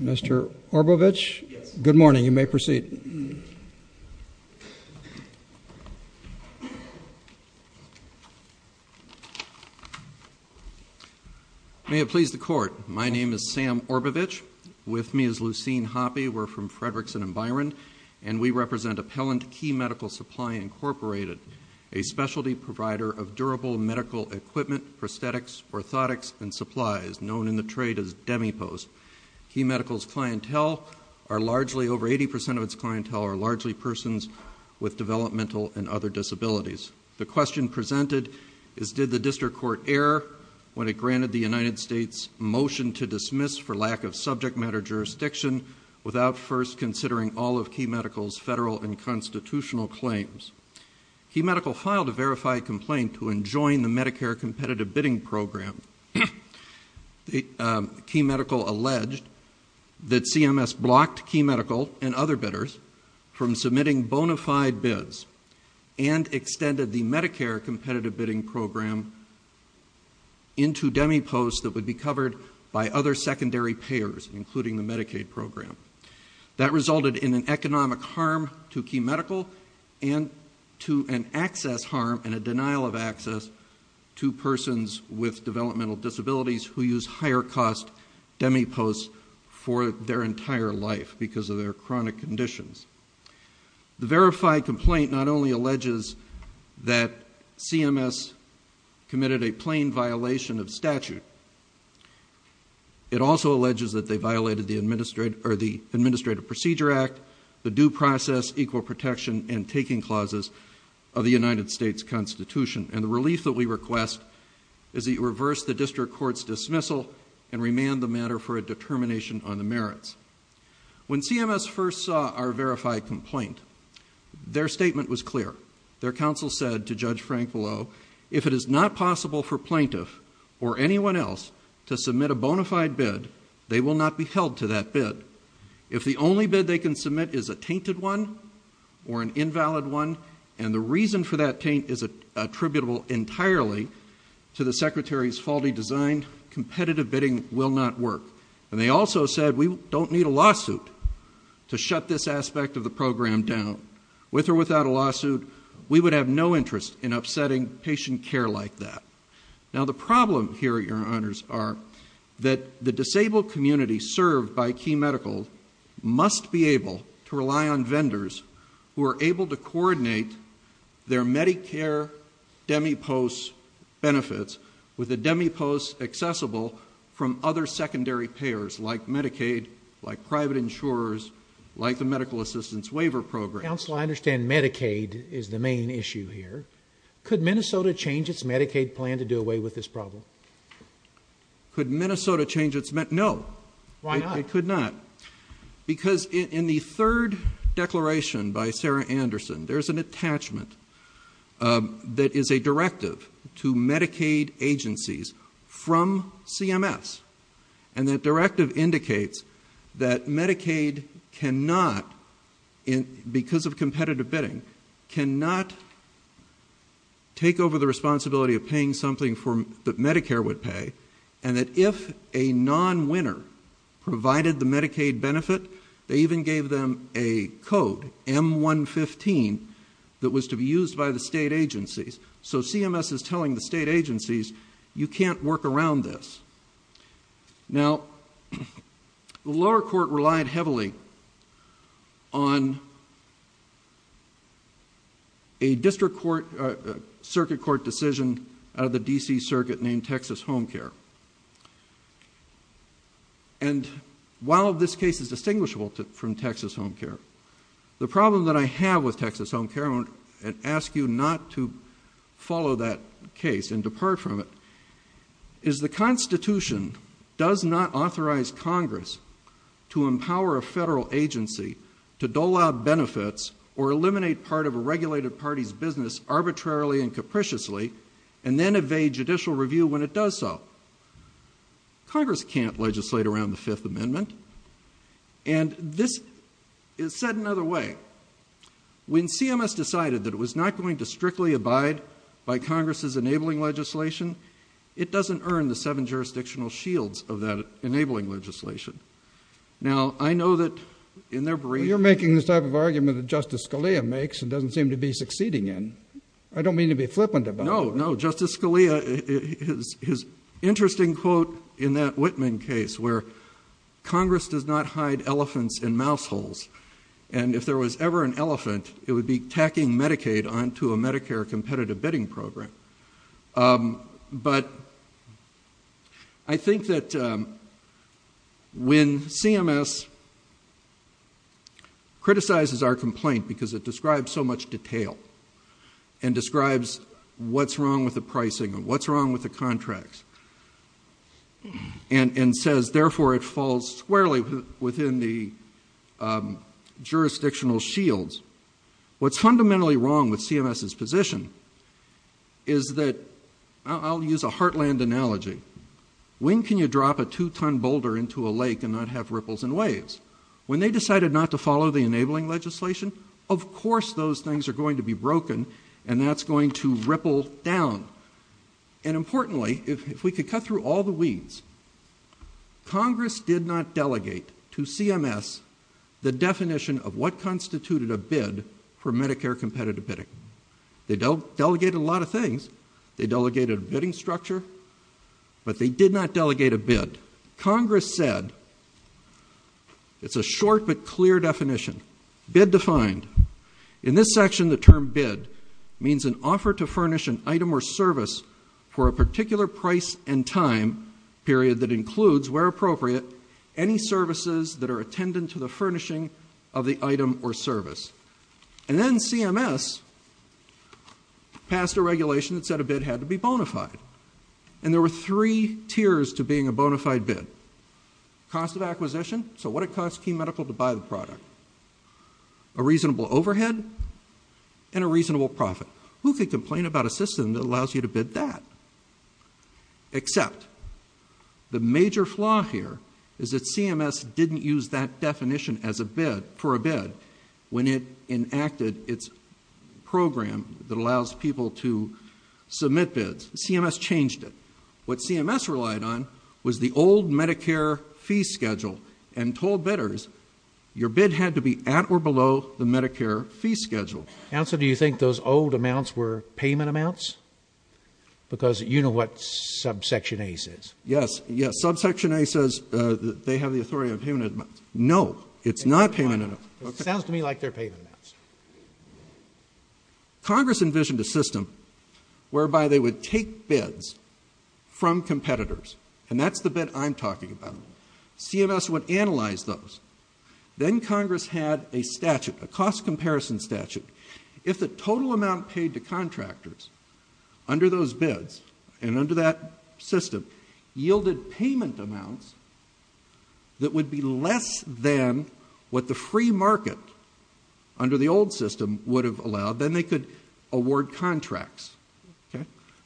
Mr. Orbovich, good morning. You may proceed. May it please the Court, my name is Sam Orbovich. With me is Lucene Hoppe. We're from Fredrickson & Byron, and we represent Appellant Key Medical Supply, Inc., a specialty provider of durable medical equipment, prosthetics, orthotics, and supplies, known in the trade as DemiPost. Key Medical's clientele are largely, over 80% of its clientele, are largely persons with developmental and other disabilities. The question presented is did the district court err when it granted the United States motion to dismiss for lack of subject matter jurisdiction without first considering all of Key Medical's federal and constitutional claims? Key Medical filed a verified complaint to enjoin the Medicare Competitive Bidding Program. Key Medical alleged that CMS blocked Key Medical and other bidders from submitting bona fide bids and extended the Medicare Competitive Bidding Program into DemiPost that would be covered by other secondary payers, including the Medicaid program. That resulted in an economic harm to Key Medical and to an access harm and a denial of access to persons with developmental disabilities who use higher-cost DemiPosts for their entire life because of their chronic conditions. The verified complaint not only alleges that CMS committed a plain violation of statute. It also alleges that they violated the Administrative Procedure Act, the Due Process, Equal Protection, and Taking Clauses of the United States Constitution. And the relief that we request is that you reverse the district court's dismissal and remand the matter for a determination on the merits. When CMS first saw our verified complaint, their statement was clear. Their counsel said to Judge Frank Below, if it is not possible for plaintiff or anyone else to submit a bona fide bid, they will not be held to that bid. If the only bid they can submit is a tainted one or an invalid one and the reason for that taint is attributable entirely to the Secretary's faulty design, competitive bidding will not work. And they also said we don't need a lawsuit to shut this aspect of the program down. With or without a lawsuit, we would have no interest in upsetting patient care like that. Now the problem here, Your Honors, are that the disabled community served by Key Medical must be able to rely on vendors who are able to coordinate their Medicare demipost benefits with a demipost accessible from other secondary payers like Medicaid, like private insurers, like the Medical Assistance Waiver Program. Counsel, I understand Medicaid is the main issue here. Could Minnesota change its Medicaid plan to do away with this problem? Could Minnesota change its Medi-no. Why not? It could not. Because in the third declaration by Sarah Anderson, there's an attachment that is a directive to Medicaid agencies from CMS, and that directive indicates that Medicaid cannot, because of competitive bidding, cannot take over the responsibility of paying something that Medicare would pay and that if a non-winner provided the Medicaid benefit, they even gave them a code, M-115, that was to be used by the state agencies. So CMS is telling the state agencies you can't work around this. Now, the lower court relied heavily on a district court, a circuit court decision out of the D.C. Circuit named Texas Home Care. And while this case is distinguishable from Texas Home Care, the problem that I have with Texas Home Care, and I ask you not to follow that case and depart from it, is the Constitution does not authorize Congress to empower a federal agency to dole out benefits or eliminate part of a regulated party's business arbitrarily and capriciously and then evade judicial review when it does so. Congress can't legislate around the Fifth Amendment. And this is said another way. When CMS decided that it was not going to strictly abide by Congress's enabling legislation, it doesn't earn the seven jurisdictional shields of that enabling legislation. Now, I know that in their brief... Well, you're making the type of argument that Justice Scalia makes and doesn't seem to be succeeding in. I don't mean to be flippant about it. No, no. Justice Scalia, his interesting quote in that Whitman case where Congress does not hide elephants in mouse holes and if there was ever an elephant, it would be tacking Medicaid onto a Medicare competitive bidding program. But I think that when CMS criticizes our complaint because it describes so much detail and describes what's wrong with the pricing and what's wrong with the contracts and says, therefore, it falls squarely within the jurisdictional shields, what's fundamentally wrong with CMS's position is that... I'll use a heartland analogy. When can you drop a two-ton boulder into a lake and not have ripples and waves? When they decided not to follow the enabling legislation, of course those things are going to be broken and that's going to ripple down. And importantly, if we could cut through all the weeds, Congress did not delegate to CMS the definition of what constituted a bid for Medicare competitive bidding. They delegated a lot of things. They delegated a bidding structure, but they did not delegate a bid. Congress said it's a short but clear definition. Bid defined. In this section, the term bid means an offer to furnish an item or service for a particular price and time period that includes, where appropriate, any services that are attendant to the furnishing of the item or service. And then CMS passed a regulation that said a bid had to be bona fide. And there were three tiers to being a bona fide bid. Cost of acquisition, so what it costs Key Medical to buy the product. A reasonable overhead and a reasonable profit. Who could complain about a system that allows you to bid that? Except the major flaw here is that CMS didn't use that definition for a bid when it enacted its program that allows people to submit bids. CMS changed it. What CMS relied on was the old Medicare fee schedule and told bidders your bid had to be at or below the Medicare fee schedule. Counsel, do you think those old amounts were payment amounts? Because you know what subsection A says. Yes, yes. Subsection A says they have the authority on payment amounts. No, it's not payment amounts. It sounds to me like they're payment amounts. Congress envisioned a system whereby they would take bids from competitors, and that's the bid I'm talking about. CMS would analyze those. Then Congress had a statute, a cost comparison statute. If the total amount paid to contractors under those bids and under that system yielded payment amounts that would be less than what the free market under the old system would have allowed, then they could award contracts.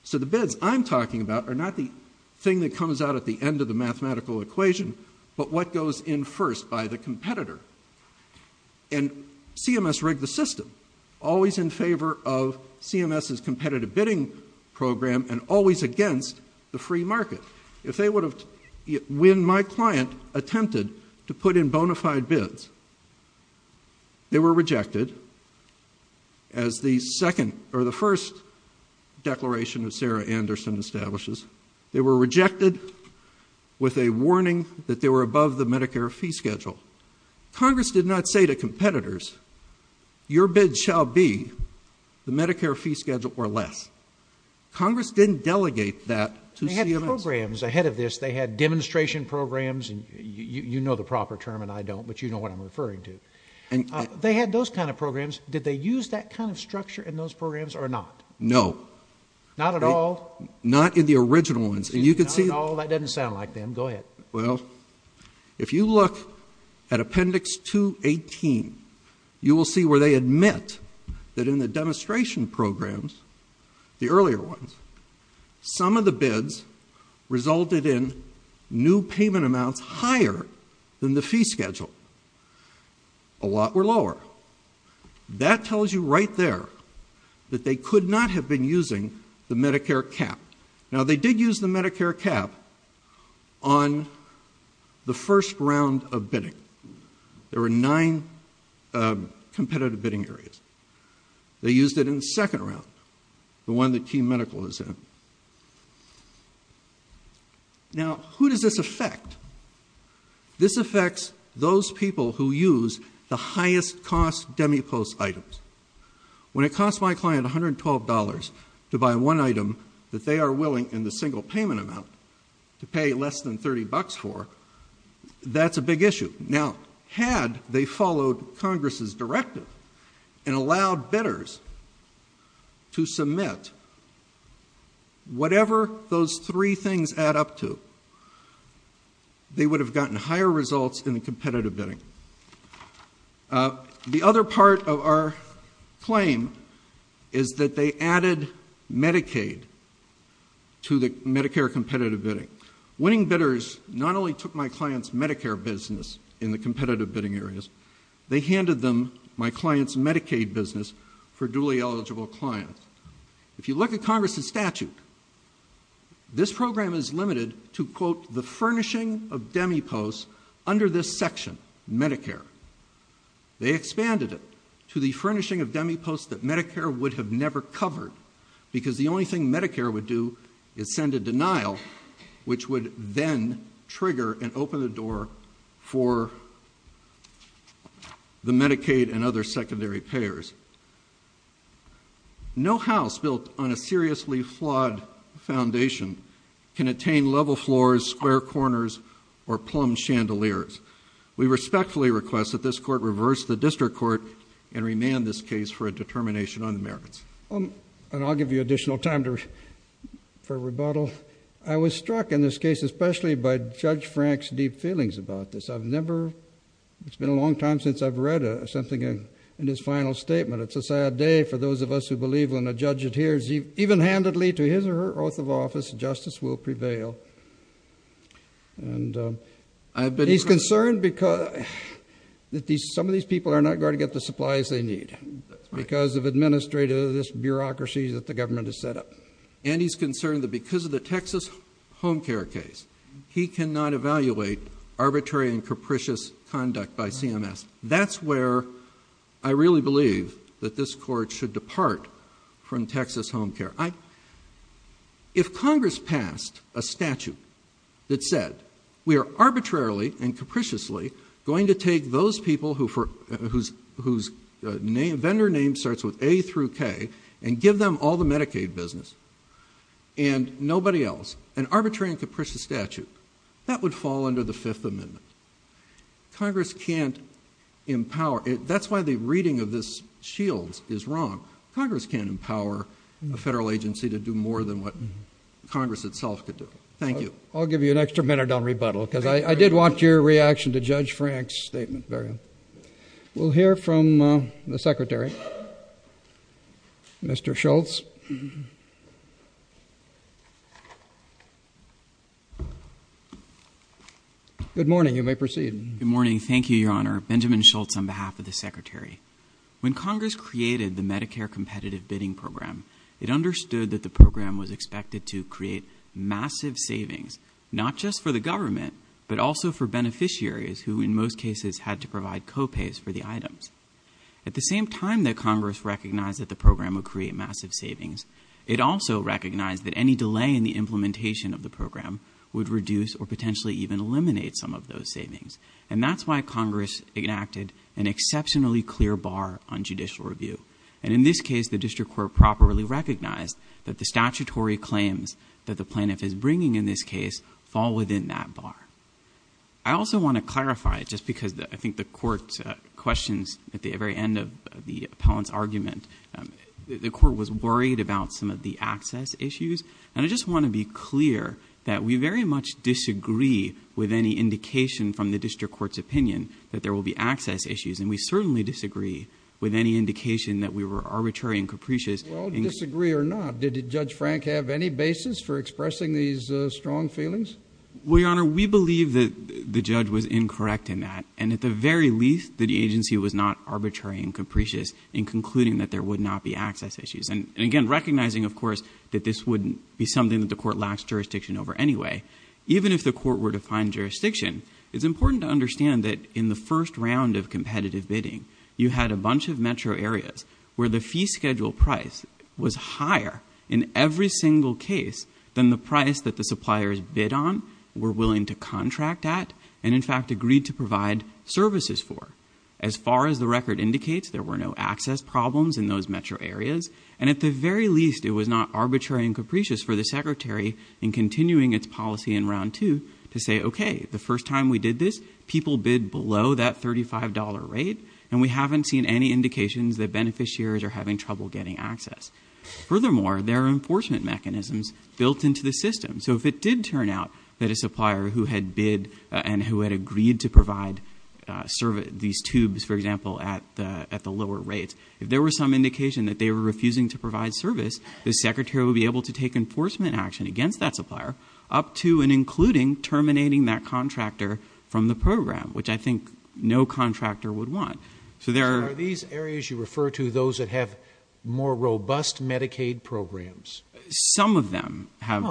So the bids I'm talking about are not the thing that comes out at the end of the mathematical equation, but what goes in first by the competitor. And CMS rigged the system, always in favor of CMS's competitive bidding program and always against the free market. If they would have, when my client attempted to put in bona fide bids, they were rejected as the first declaration that Sarah Anderson establishes. They were rejected with a warning that they were above the Medicare fee schedule. Congress did not say to competitors, your bid shall be the Medicare fee schedule or less. Congress didn't delegate that to CMS. They had programs ahead of this. They had demonstration programs. You know the proper term, and I don't, but you know what I'm referring to. They had those kind of programs. Did they use that kind of structure in those programs or not? No. Not at all? Not in the original ones. No, that doesn't sound like them. Go ahead. Well, if you look at Appendix 218, you will see where they admit that in the demonstration programs, the earlier ones, some of the bids resulted in new payment amounts higher than the fee schedule. A lot were lower. That tells you right there that they could not have been using the Medicare cap. Now, they did use the Medicare cap on the first round of bidding. There were nine competitive bidding areas. They used it in the second round, the one that Key Medical is in. Now, who does this affect? This affects those people who use the highest cost demipost items. When it costs my client $112 to buy one item that they are willing, in the single payment amount, to pay less than $30 for, that's a big issue. and allowed bidders to submit whatever those three things add up to, they would have gotten higher results in the competitive bidding. The other part of our claim is that they added Medicaid to the Medicare competitive bidding. Winning bidders not only took my client's Medicare business in the competitive bidding areas, they handed them my client's Medicaid business for duly eligible clients. If you look at Congress's statute, this program is limited to, quote, the furnishing of demiposts under this section, Medicare. They expanded it to the furnishing of demiposts that Medicare would have never covered, which would then trigger and open the door for the Medicaid and other secondary payers. No house built on a seriously flawed foundation can attain level floors, square corners, or plumb chandeliers. We respectfully request that this Court reverse the district court and remand this case for a determination on the merits. And I'll give you additional time for rebuttal. I was struck in this case, especially by Judge Frank's deep feelings about this. I've never, it's been a long time since I've read something in his final statement. It's a sad day for those of us who believe when a judge adheres even handedly to his or her oath of office, justice will prevail. And he's concerned because some of these people are not going to get the supplies they need because of administrative, this bureaucracy that the government has set up. And he's concerned that because of the Texas home care case, he cannot evaluate arbitrary and capricious conduct by CMS. That's where I really believe that this Court should depart from Texas home care. If Congress passed a statute that said, we are arbitrarily and capriciously going to take those people whose vendor name starts with A through K and give them all the Medicaid business and nobody else, an arbitrary and capricious statute, that would fall under the Fifth Amendment. Congress can't empower, that's why the reading of this shield is wrong. Congress can't empower a federal agency to do more than what Congress itself could do. Thank you. I'll give you an extra minute on rebuttal because I did want your reaction to Judge Frank's statement. We'll hear from the Secretary. Mr. Schultz. Good morning. You may proceed. Good morning. Thank you, Your Honor. Benjamin Schultz on behalf of the Secretary. When Congress created the Medicare Competitive Bidding Program, it understood that the program was expected to create massive savings not just for the government but also for beneficiaries who in most cases had to provide co-pays for the items. At the same time that Congress recognized that the program would create massive savings, it also recognized that any delay in the implementation of the program would reduce or potentially even eliminate some of those savings. And that's why Congress enacted an exceptionally clear bar on judicial review. And in this case, the district court properly recognized that the statutory claims that the plaintiff is bringing in this case fall within that bar. I also want to clarify just because I think the court's questions at the very end of the appellant's argument, the court was worried about some of the access issues. And I just want to be clear that we very much disagree with any indication from the district court's opinion that there will be access issues. And we certainly disagree with any indication that we were arbitrary and capricious. Well, disagree or not, did Judge Frank have any basis for expressing these strong feelings? Well, Your Honor, we believe that the judge was incorrect in that. And at the very least, the agency was not arbitrary and capricious in concluding that there would not be access issues. And again, recognizing, of course, that this wouldn't be something that the court lacks jurisdiction over anyway. Even if the court were to find jurisdiction, it's important to understand that in the first round of competitive bidding, you had a bunch of metro areas where the fee schedule price was higher in every single case than the price that the suppliers bid on, were willing to contract at, and in fact agreed to provide services for. As far as the record indicates, there were no access problems in those metro areas. And at the very least, it was not arbitrary and capricious for the Secretary, in continuing its policy in round two, to say, okay, the first time we did this, people bid below that $35 rate, and we haven't seen any indications that beneficiaries are having trouble getting access. Furthermore, there are enforcement mechanisms built into the system. So if it did turn out that a supplier who had bid and who had agreed to provide these tubes, for example, at the lower rates, if there were some indication that they were refusing to provide service, the Secretary would be able to take enforcement action against that supplier, up to and including terminating that contractor from the program, which I think no contractor would want. So there are... So are these areas you refer to those that have more robust Medicaid programs? Some of them have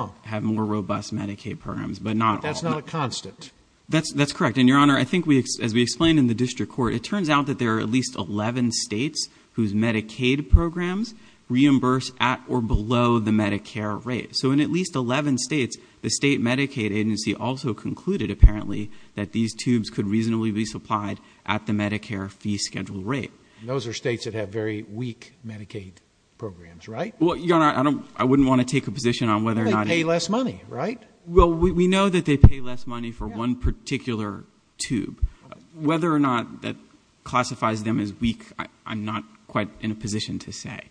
more robust Medicaid programs, but not all. But that's not a constant. That's correct. And, Your Honor, I think as we explained in the district court, it turns out that there are at least 11 states whose Medicaid programs reimburse at or below the Medicare rate. So in at least 11 states, the state Medicaid agency also concluded, apparently, that these tubes could reasonably be supplied at the Medicare fee schedule rate. And those are states that have very weak Medicaid programs, right? Well, Your Honor, I wouldn't want to take a position on whether or not... They pay less money, right? Well, we know that they pay less money for one particular tube. Whether or not that classifies them as weak, I'm not quite in a position to say.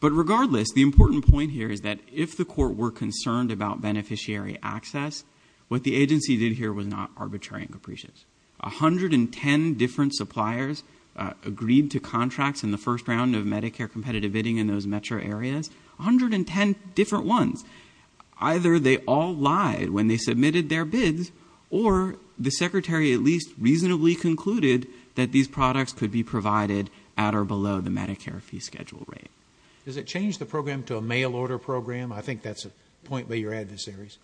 But regardless, the important point here is that if the court were concerned about beneficiary access, what the agency did here was not arbitrary and capricious. 110 different suppliers agreed to contracts in the first round of Medicare competitive bidding in those metro areas. 110 different ones. Either they all lied when they submitted their bids, or the secretary at least reasonably concluded that these products could be provided at or below the Medicare fee schedule rate. Does it change the program to a mail-order program? I think that's a point by your adversaries.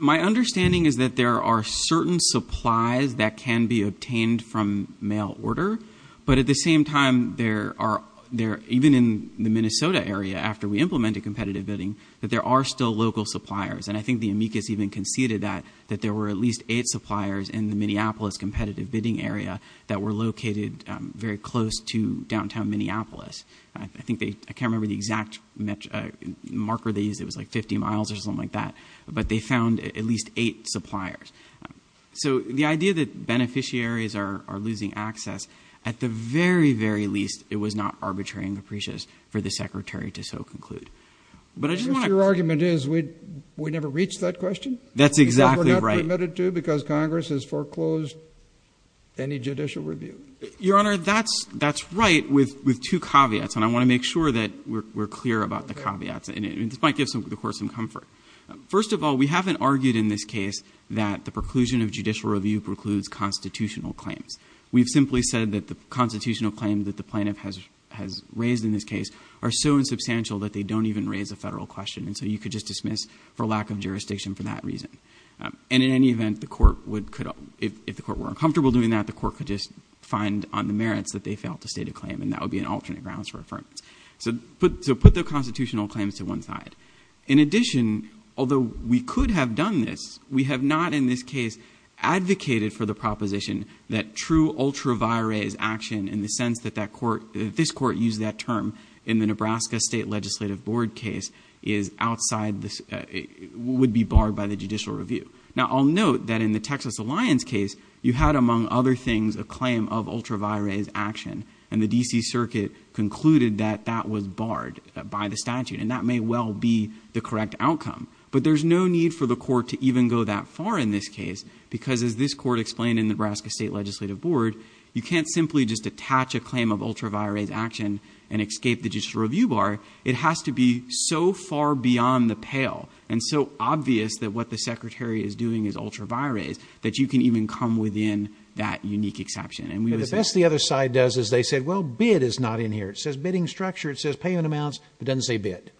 My understanding is that there are certain supplies that can be obtained from mail order, but at the same time, even in the Minnesota area, after we implemented competitive bidding, that there are still local suppliers. And I think the amicus even conceded that, that there were at least eight suppliers in the Minneapolis competitive bidding area that were located very close to downtown Minneapolis. I can't remember the exact marker they used. It was like 50 miles or something like that. But they found at least eight suppliers. So the idea that beneficiaries are losing access, at the very, very least, it was not arbitrary and capricious for the secretary to so conclude. Your argument is we never reached that question? That's exactly right. So we're not permitted to because Congress has foreclosed any judicial review? Your Honor, that's right with two caveats, and I want to make sure that we're clear about the caveats. And this might give the Court some comfort. First of all, we haven't argued in this case that the preclusion of judicial review precludes constitutional claims. We've simply said that the constitutional claims that the plaintiff has raised in this case are so insubstantial that they don't even raise a federal question, and so you could just dismiss for lack of jurisdiction for that reason. And in any event, if the Court were uncomfortable doing that, the Court could just find on the merits that they failed to state a claim, and that would be an alternate grounds for affirmation. So put the constitutional claims to one side. In addition, although we could have done this, we have not in this case advocated for the proposition that true ultra vires action, in the sense that this Court used that term in the Nebraska State Legislative Board case, would be barred by the judicial review. Now, I'll note that in the Texas Alliance case, you had, among other things, a claim of ultra vires action, and the D.C. Circuit concluded that that was barred by the statute, and that may well be the correct outcome. But there's no need for the Court to even go that far in this case because, as this Court explained in the Nebraska State Legislative Board, you can't simply just attach a claim of ultra vires action and escape the judicial review bar. It has to be so far beyond the pale and so obvious that what the Secretary is doing is ultra vires that you can even come within that unique exception. But the best the other side does is they said, well, bid is not in here. It says bidding structure. It says payment amounts. It doesn't say bid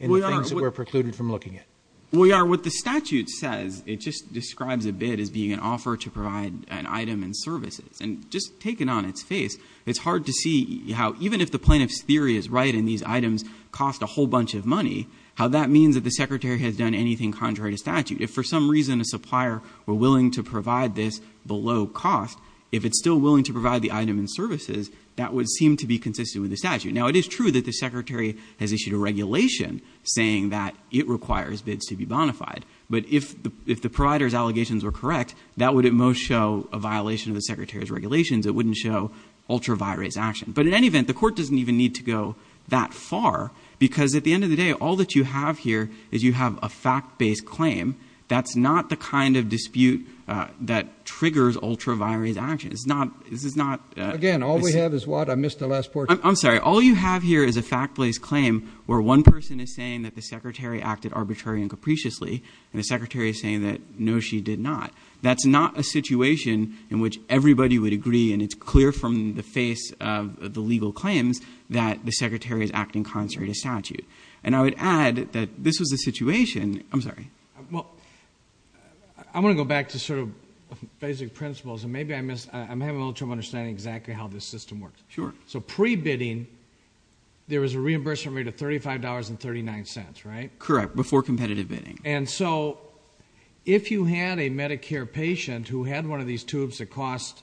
in the things that we're precluded from looking at. Well, Your Honor, what the statute says, it just describes a bid as being an offer to provide an item and services. And just taken on its face, it's hard to see how even if the plaintiff's theory is right and these items cost a whole bunch of money, how that means that the Secretary has done anything contrary to statute. If for some reason a supplier were willing to provide this below cost, if it's still willing to provide the item and services, that would seem to be consistent with the statute. Now, it is true that the Secretary has issued a regulation saying that it requires bids to be bonafide. But if the provider's allegations were correct, that would at most show a violation of the Secretary's regulations. It wouldn't show ultra vires action. But in any event, the court doesn't even need to go that far because at the end of the day, all that you have here is you have a fact-based claim. That's not the kind of dispute that triggers ultra vires action. It's not – this is not – Again, all we have is what? I missed the last portion. I'm sorry. All you have here is a fact-based claim where one person is saying that the Secretary acted arbitrary and capriciously and the Secretary is saying that no, she did not. That's not a situation in which everybody would agree and it's clear from the face of the legal claims that the Secretary is acting contrary to statute. And I would add that this was a situation – I'm sorry. Well, I want to go back to sort of basic principles and maybe I missed – I'm having a little trouble understanding exactly how this system works. Sure. So pre-bidding, there was a reimbursement rate of $35.39, right? Correct, before competitive bidding. And so if you had a Medicare patient who had one of these tubes that cost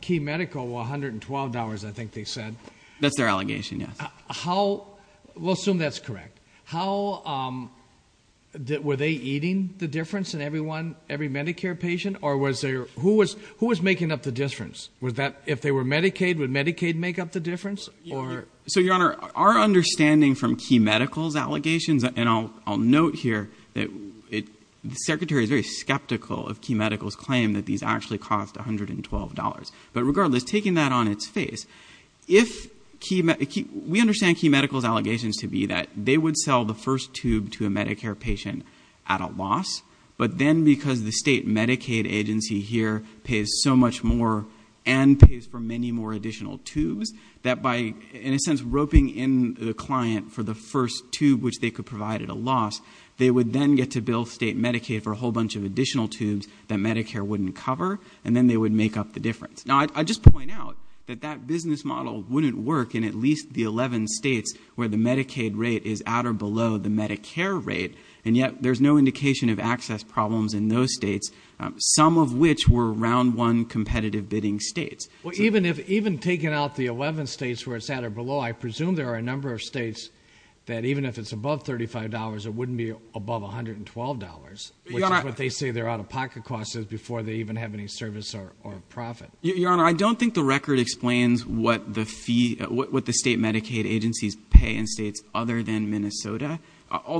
Key Medical $112, I think they said. That's their allegation, yes. How – we'll assume that's correct. How – were they eating the difference in everyone, every Medicare patient? Or was there – who was making up the difference? If they were Medicaid, would Medicaid make up the difference? So, Your Honor, our understanding from Key Medical's allegations – and I'll note here that the Secretary is very skeptical of Key Medical's claim that these actually cost $112. But regardless, taking that on its face, if – we understand Key Medical's allegations to be that they would sell the first tube to a Medicare patient at a loss, but then because the state Medicaid agency here pays so much more and pays for many more additional tubes, that by, in a sense, roping in the client for the first tube which they could provide at a loss, they would then get to bill state Medicaid for a whole bunch of additional tubes that Medicare wouldn't cover, and then they would make up the difference. Now, I'd just point out that that business model wouldn't work in at least the 11 states where the Medicaid rate is at or below the Medicare rate, and yet there's no indication of access problems in those states, some of which were Round 1 competitive bidding states. Well, even if – even taking out the 11 states where it's at or below, I presume there are a number of states that even if it's above $35, it wouldn't be above $112, which is what they say their out-of-pocket cost is before they even have any service or profit. Your Honor, I don't think the record explains what the fee – All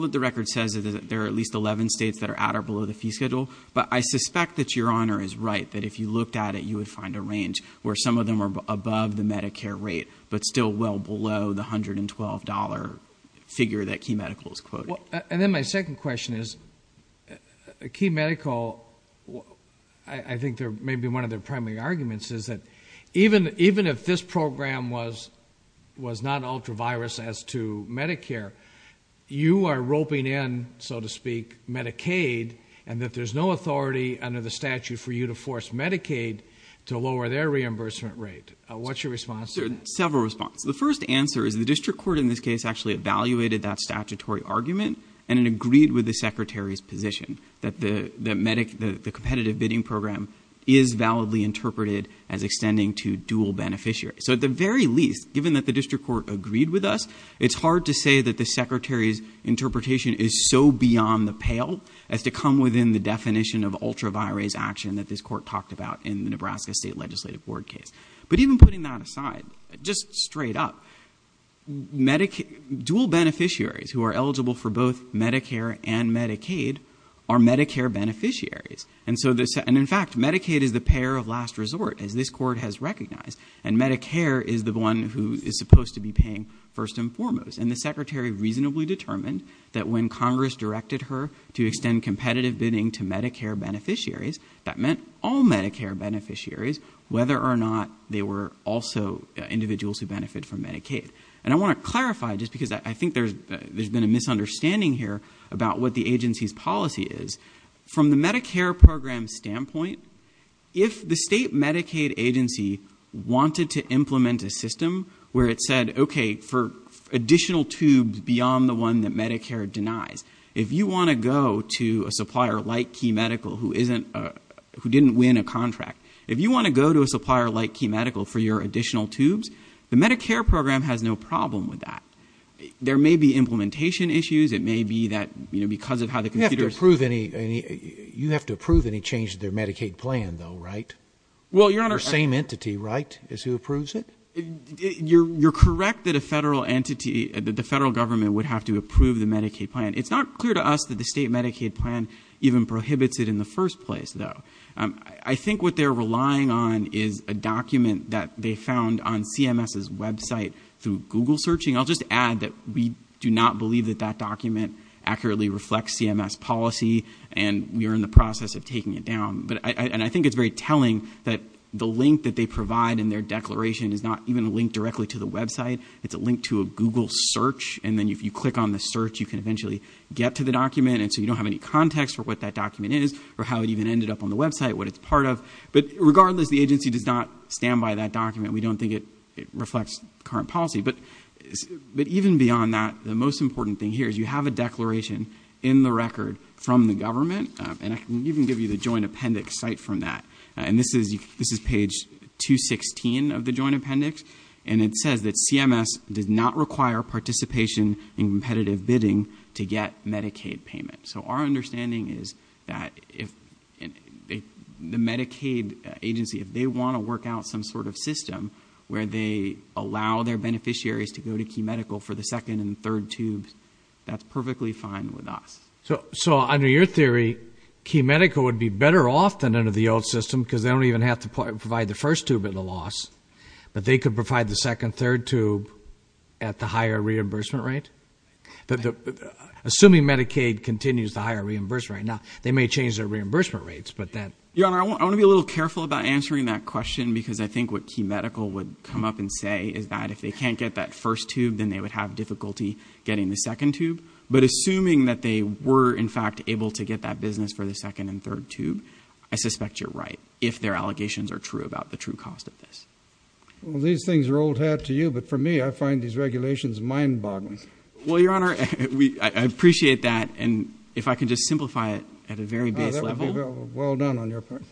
that the record says is that there are at least 11 states that are at or below the fee schedule, but I suspect that Your Honor is right, that if you looked at it, you would find a range where some of them are above the Medicare rate but still well below the $112 figure that Key Medical is quoting. And then my second question is, Key Medical – I think maybe one of their primary arguments is that even if this program was not ultra-virus as to Medicare, you are roping in, so to speak, Medicaid, and that there's no authority under the statute for you to force Medicaid to lower their reimbursement rate. What's your response to that? There are several responses. The first answer is the district court in this case actually evaluated that statutory argument and it agreed with the Secretary's position that the competitive bidding program is validly interpreted as extending to dual beneficiaries. So at the very least, given that the district court agreed with us, it's hard to say that the Secretary's interpretation is so beyond the pale as to come within the definition of ultra-virus action that this court talked about in the Nebraska State Legislative Board case. But even putting that aside, just straight up, dual beneficiaries who are eligible for both Medicare and Medicaid are Medicare beneficiaries. And in fact, Medicaid is the payer of last resort, as this court has recognized, and Medicare is the one who is supposed to be paying first and foremost. And the Secretary reasonably determined that when Congress directed her to extend competitive bidding to Medicare beneficiaries, that meant all Medicare beneficiaries, whether or not they were also individuals who benefit from Medicaid. And I want to clarify, just because I think there's been a misunderstanding here about what the agency's policy is. From the Medicare program's standpoint, if the state Medicaid agency wanted to implement a system where it said, okay, for additional tubes beyond the one that Medicare denies, if you want to go to a supplier like Key Medical who didn't win a contract, if you want to go to a supplier like Key Medical for your additional tubes, the Medicare program has no problem with that. There may be implementation issues. It may be that because of how the computer is set up. You have to approve any change to their Medicaid plan, though, right? Well, Your Honor. The same entity, right, is who approves it? You're correct that the federal government would have to approve the Medicaid plan. It's not clear to us that the state Medicaid plan even prohibits it in the first place, though. I think what they're relying on is a document that they found on CMS's website through Google searching. I'll just add that we do not believe that that document accurately reflects CMS policy, and we are in the process of taking it down. And I think it's very telling that the link that they provide in their declaration is not even a link directly to the website. It's a link to a Google search, and then if you click on the search, you can eventually get to the document, and so you don't have any context for what that document is or how it even ended up on the website, what it's part of. But regardless, the agency does not stand by that document. We don't think it reflects current policy. But even beyond that, the most important thing here is you have a declaration in the record from the government, and I can even give you the joint appendix cite from that. And this is page 216 of the joint appendix, and it says that CMS does not require participation in competitive bidding to get Medicaid payment. So our understanding is that if the Medicaid agency, if they want to work out some sort of system where they allow their beneficiaries to go to Key Medical for the second and third tubes, that's perfectly fine with us. So under your theory, Key Medical would be better off than under the old system because they don't even have to provide the first tube at the loss, but they could provide the second, third tube at the higher reimbursement rate? Assuming Medicaid continues the higher reimbursement rate. Now, they may change their reimbursement rates, but that... Your Honor, I want to be a little careful about answering that question because I think what Key Medical would come up and say is that if they can't get that first tube, then they would have difficulty getting the second tube. But assuming that they were, in fact, able to get that business for the second and third tube, I suspect you're right if their allegations are true about the true cost of this. Well, these things are old hat to you, but for me, I find these regulations mind-boggling. Well, Your Honor, I appreciate that, and if I could just simplify it at a very base level. Well done on your part.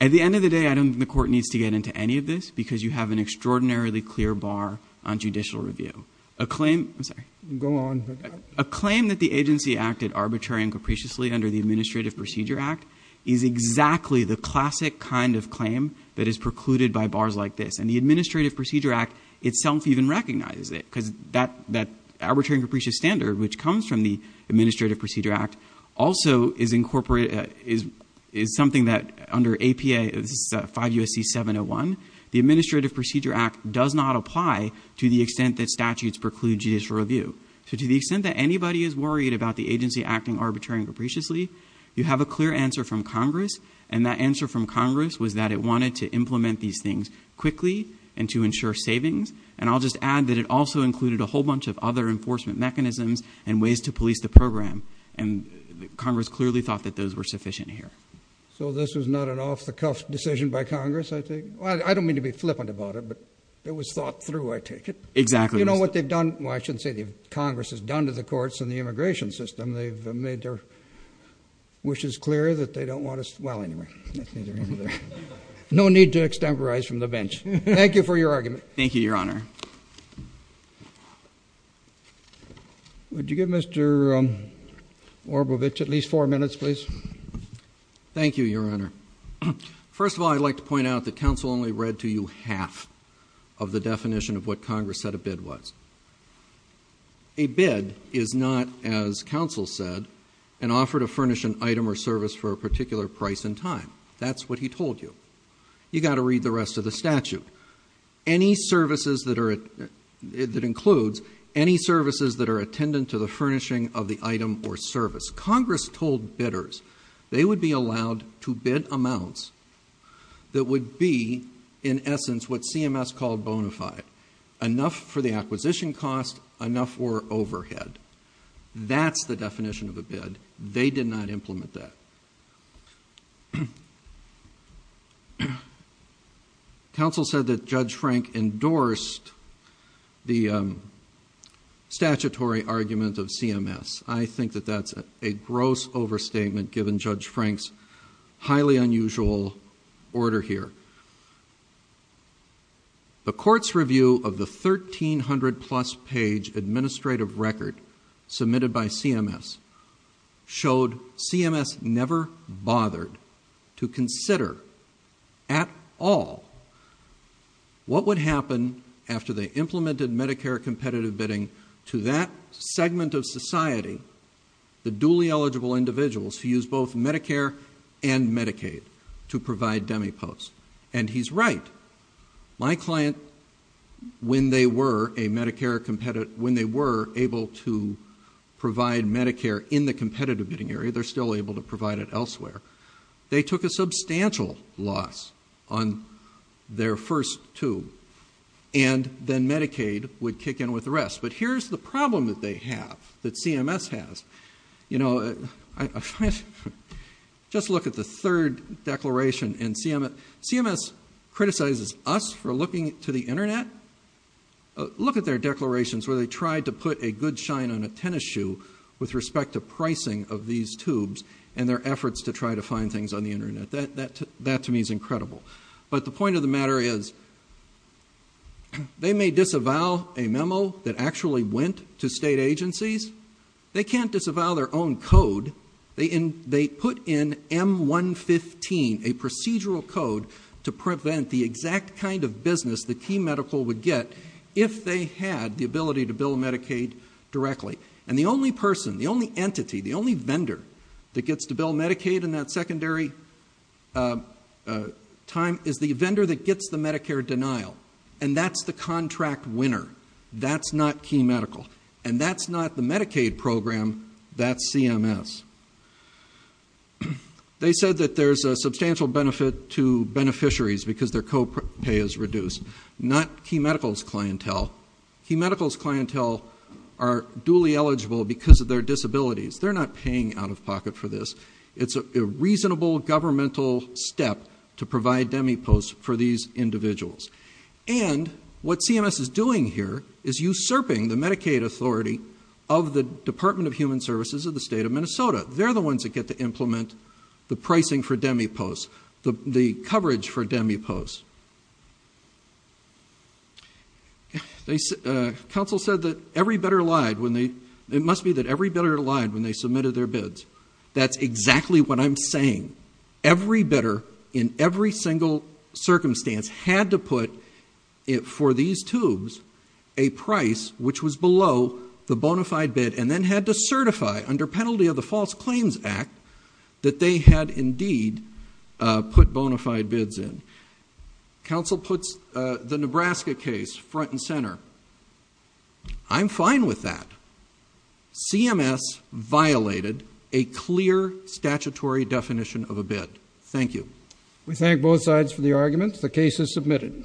At the end of the day, I don't think the court needs to get into any of this because you have an extraordinarily clear bar on judicial review. A claim... I'm sorry. Go on. A claim that the agency acted arbitrary and capriciously under the Administrative Procedure Act is exactly the classic kind of claim that is precluded by bars like this, and the Administrative Procedure Act itself even recognizes it because that arbitrary and capricious standard, which comes from the Administrative Procedure Act, also is something that under APA 5 U.S.C. 701, the Administrative Procedure Act does not apply to the extent that statutes preclude judicial review. So to the extent that anybody is worried about the agency acting arbitrary and capriciously, you have a clear answer from Congress, and that answer from Congress was that it wanted to implement these things quickly and to ensure savings, and I'll just add that it also included a whole bunch of other enforcement mechanisms and ways to police the program, and Congress clearly thought that those were sufficient here. So this was not an off-the-cuff decision by Congress, I think? Well, I don't mean to be flippant about it, but it was thought through, I take it. Exactly. You know what they've done? Well, I shouldn't say the Congress has done to the courts and the immigration system. They've made their wishes clear that they don't want us... Well, anyway. No need to extemporize from the bench. Thank you for your argument. Thank you, Your Honor. Would you give Mr. Orbowich at least four minutes, please? Thank you, Your Honor. First of all, I'd like to point out that counsel only read to you half of the definition of what Congress said a bid was. A bid is not, as counsel said, an offer to furnish an item or service for a particular price and time. That's what he told you. You've got to read the rest of the statute. Any services that includes any services that are attendant to the furnishing of the item or service. Congress told bidders they would be allowed to bid amounts that would be, in essence, what CMS called bona fide. Enough for the acquisition cost, enough for overhead. That's the definition of a bid. They did not implement that. Counsel said that Judge Frank endorsed the statutory argument of CMS. I think that that's a gross overstatement given Judge Frank's highly unusual order here. The court's review of the 1,300-plus page administrative record submitted by CMS showed CMS never bothered to consider at all what would happen after they implemented Medicare competitive bidding to that segment of society, the duly eligible individuals who use both Medicare and Medicaid to provide demipost. And he's right. My client, when they were able to provide Medicare in the competitive bidding area, they're still able to provide it elsewhere, they took a substantial loss on their first two. And then Medicaid would kick in with the rest. But here's the problem that they have, that CMS has. Just look at the third declaration. CMS criticizes us for looking to the Internet. Look at their declarations where they tried to put a good shine on a tennis shoe with respect to pricing of these tubes and their efforts to try to find things on the Internet. That, to me, is incredible. But the point of the matter is, they may disavow a memo that actually went to state agencies. They can't disavow their own code. They put in M-115, a procedural code, to prevent the exact kind of business that Key Medical would get if they had the ability to bill Medicaid directly. And the only person, the only entity, the only vendor that gets to bill Medicaid in that secondary time is the vendor that gets the Medicare denial. And that's the contract winner. That's not Key Medical. And that's not the Medicaid program. That's CMS. They said that there's a substantial benefit to beneficiaries because their copay is reduced. Not Key Medical's clientele. Key Medical's clientele are duly eligible because of their disabilities. They're not paying out-of-pocket for this. It's a reasonable governmental step to provide DEMI posts for these individuals. And what CMS is doing here is usurping the Medicaid authority of the Department of Human Services of the state of Minnesota. They're the ones that get to implement the pricing for DEMI posts, the coverage for DEMI posts. Council said that every bidder lied when they submitted their bids. That's exactly what I'm saying. Every bidder in every single circumstance had to put for these tubes a price which was below the bona fide bid and then had to certify under penalty of the False Claims Act that they had indeed put bona fide bids in. Council puts the Nebraska case front and center. I'm fine with that. CMS violated a clear statutory definition of a bid. Thank you. We thank both sides for the argument. The case is submitted.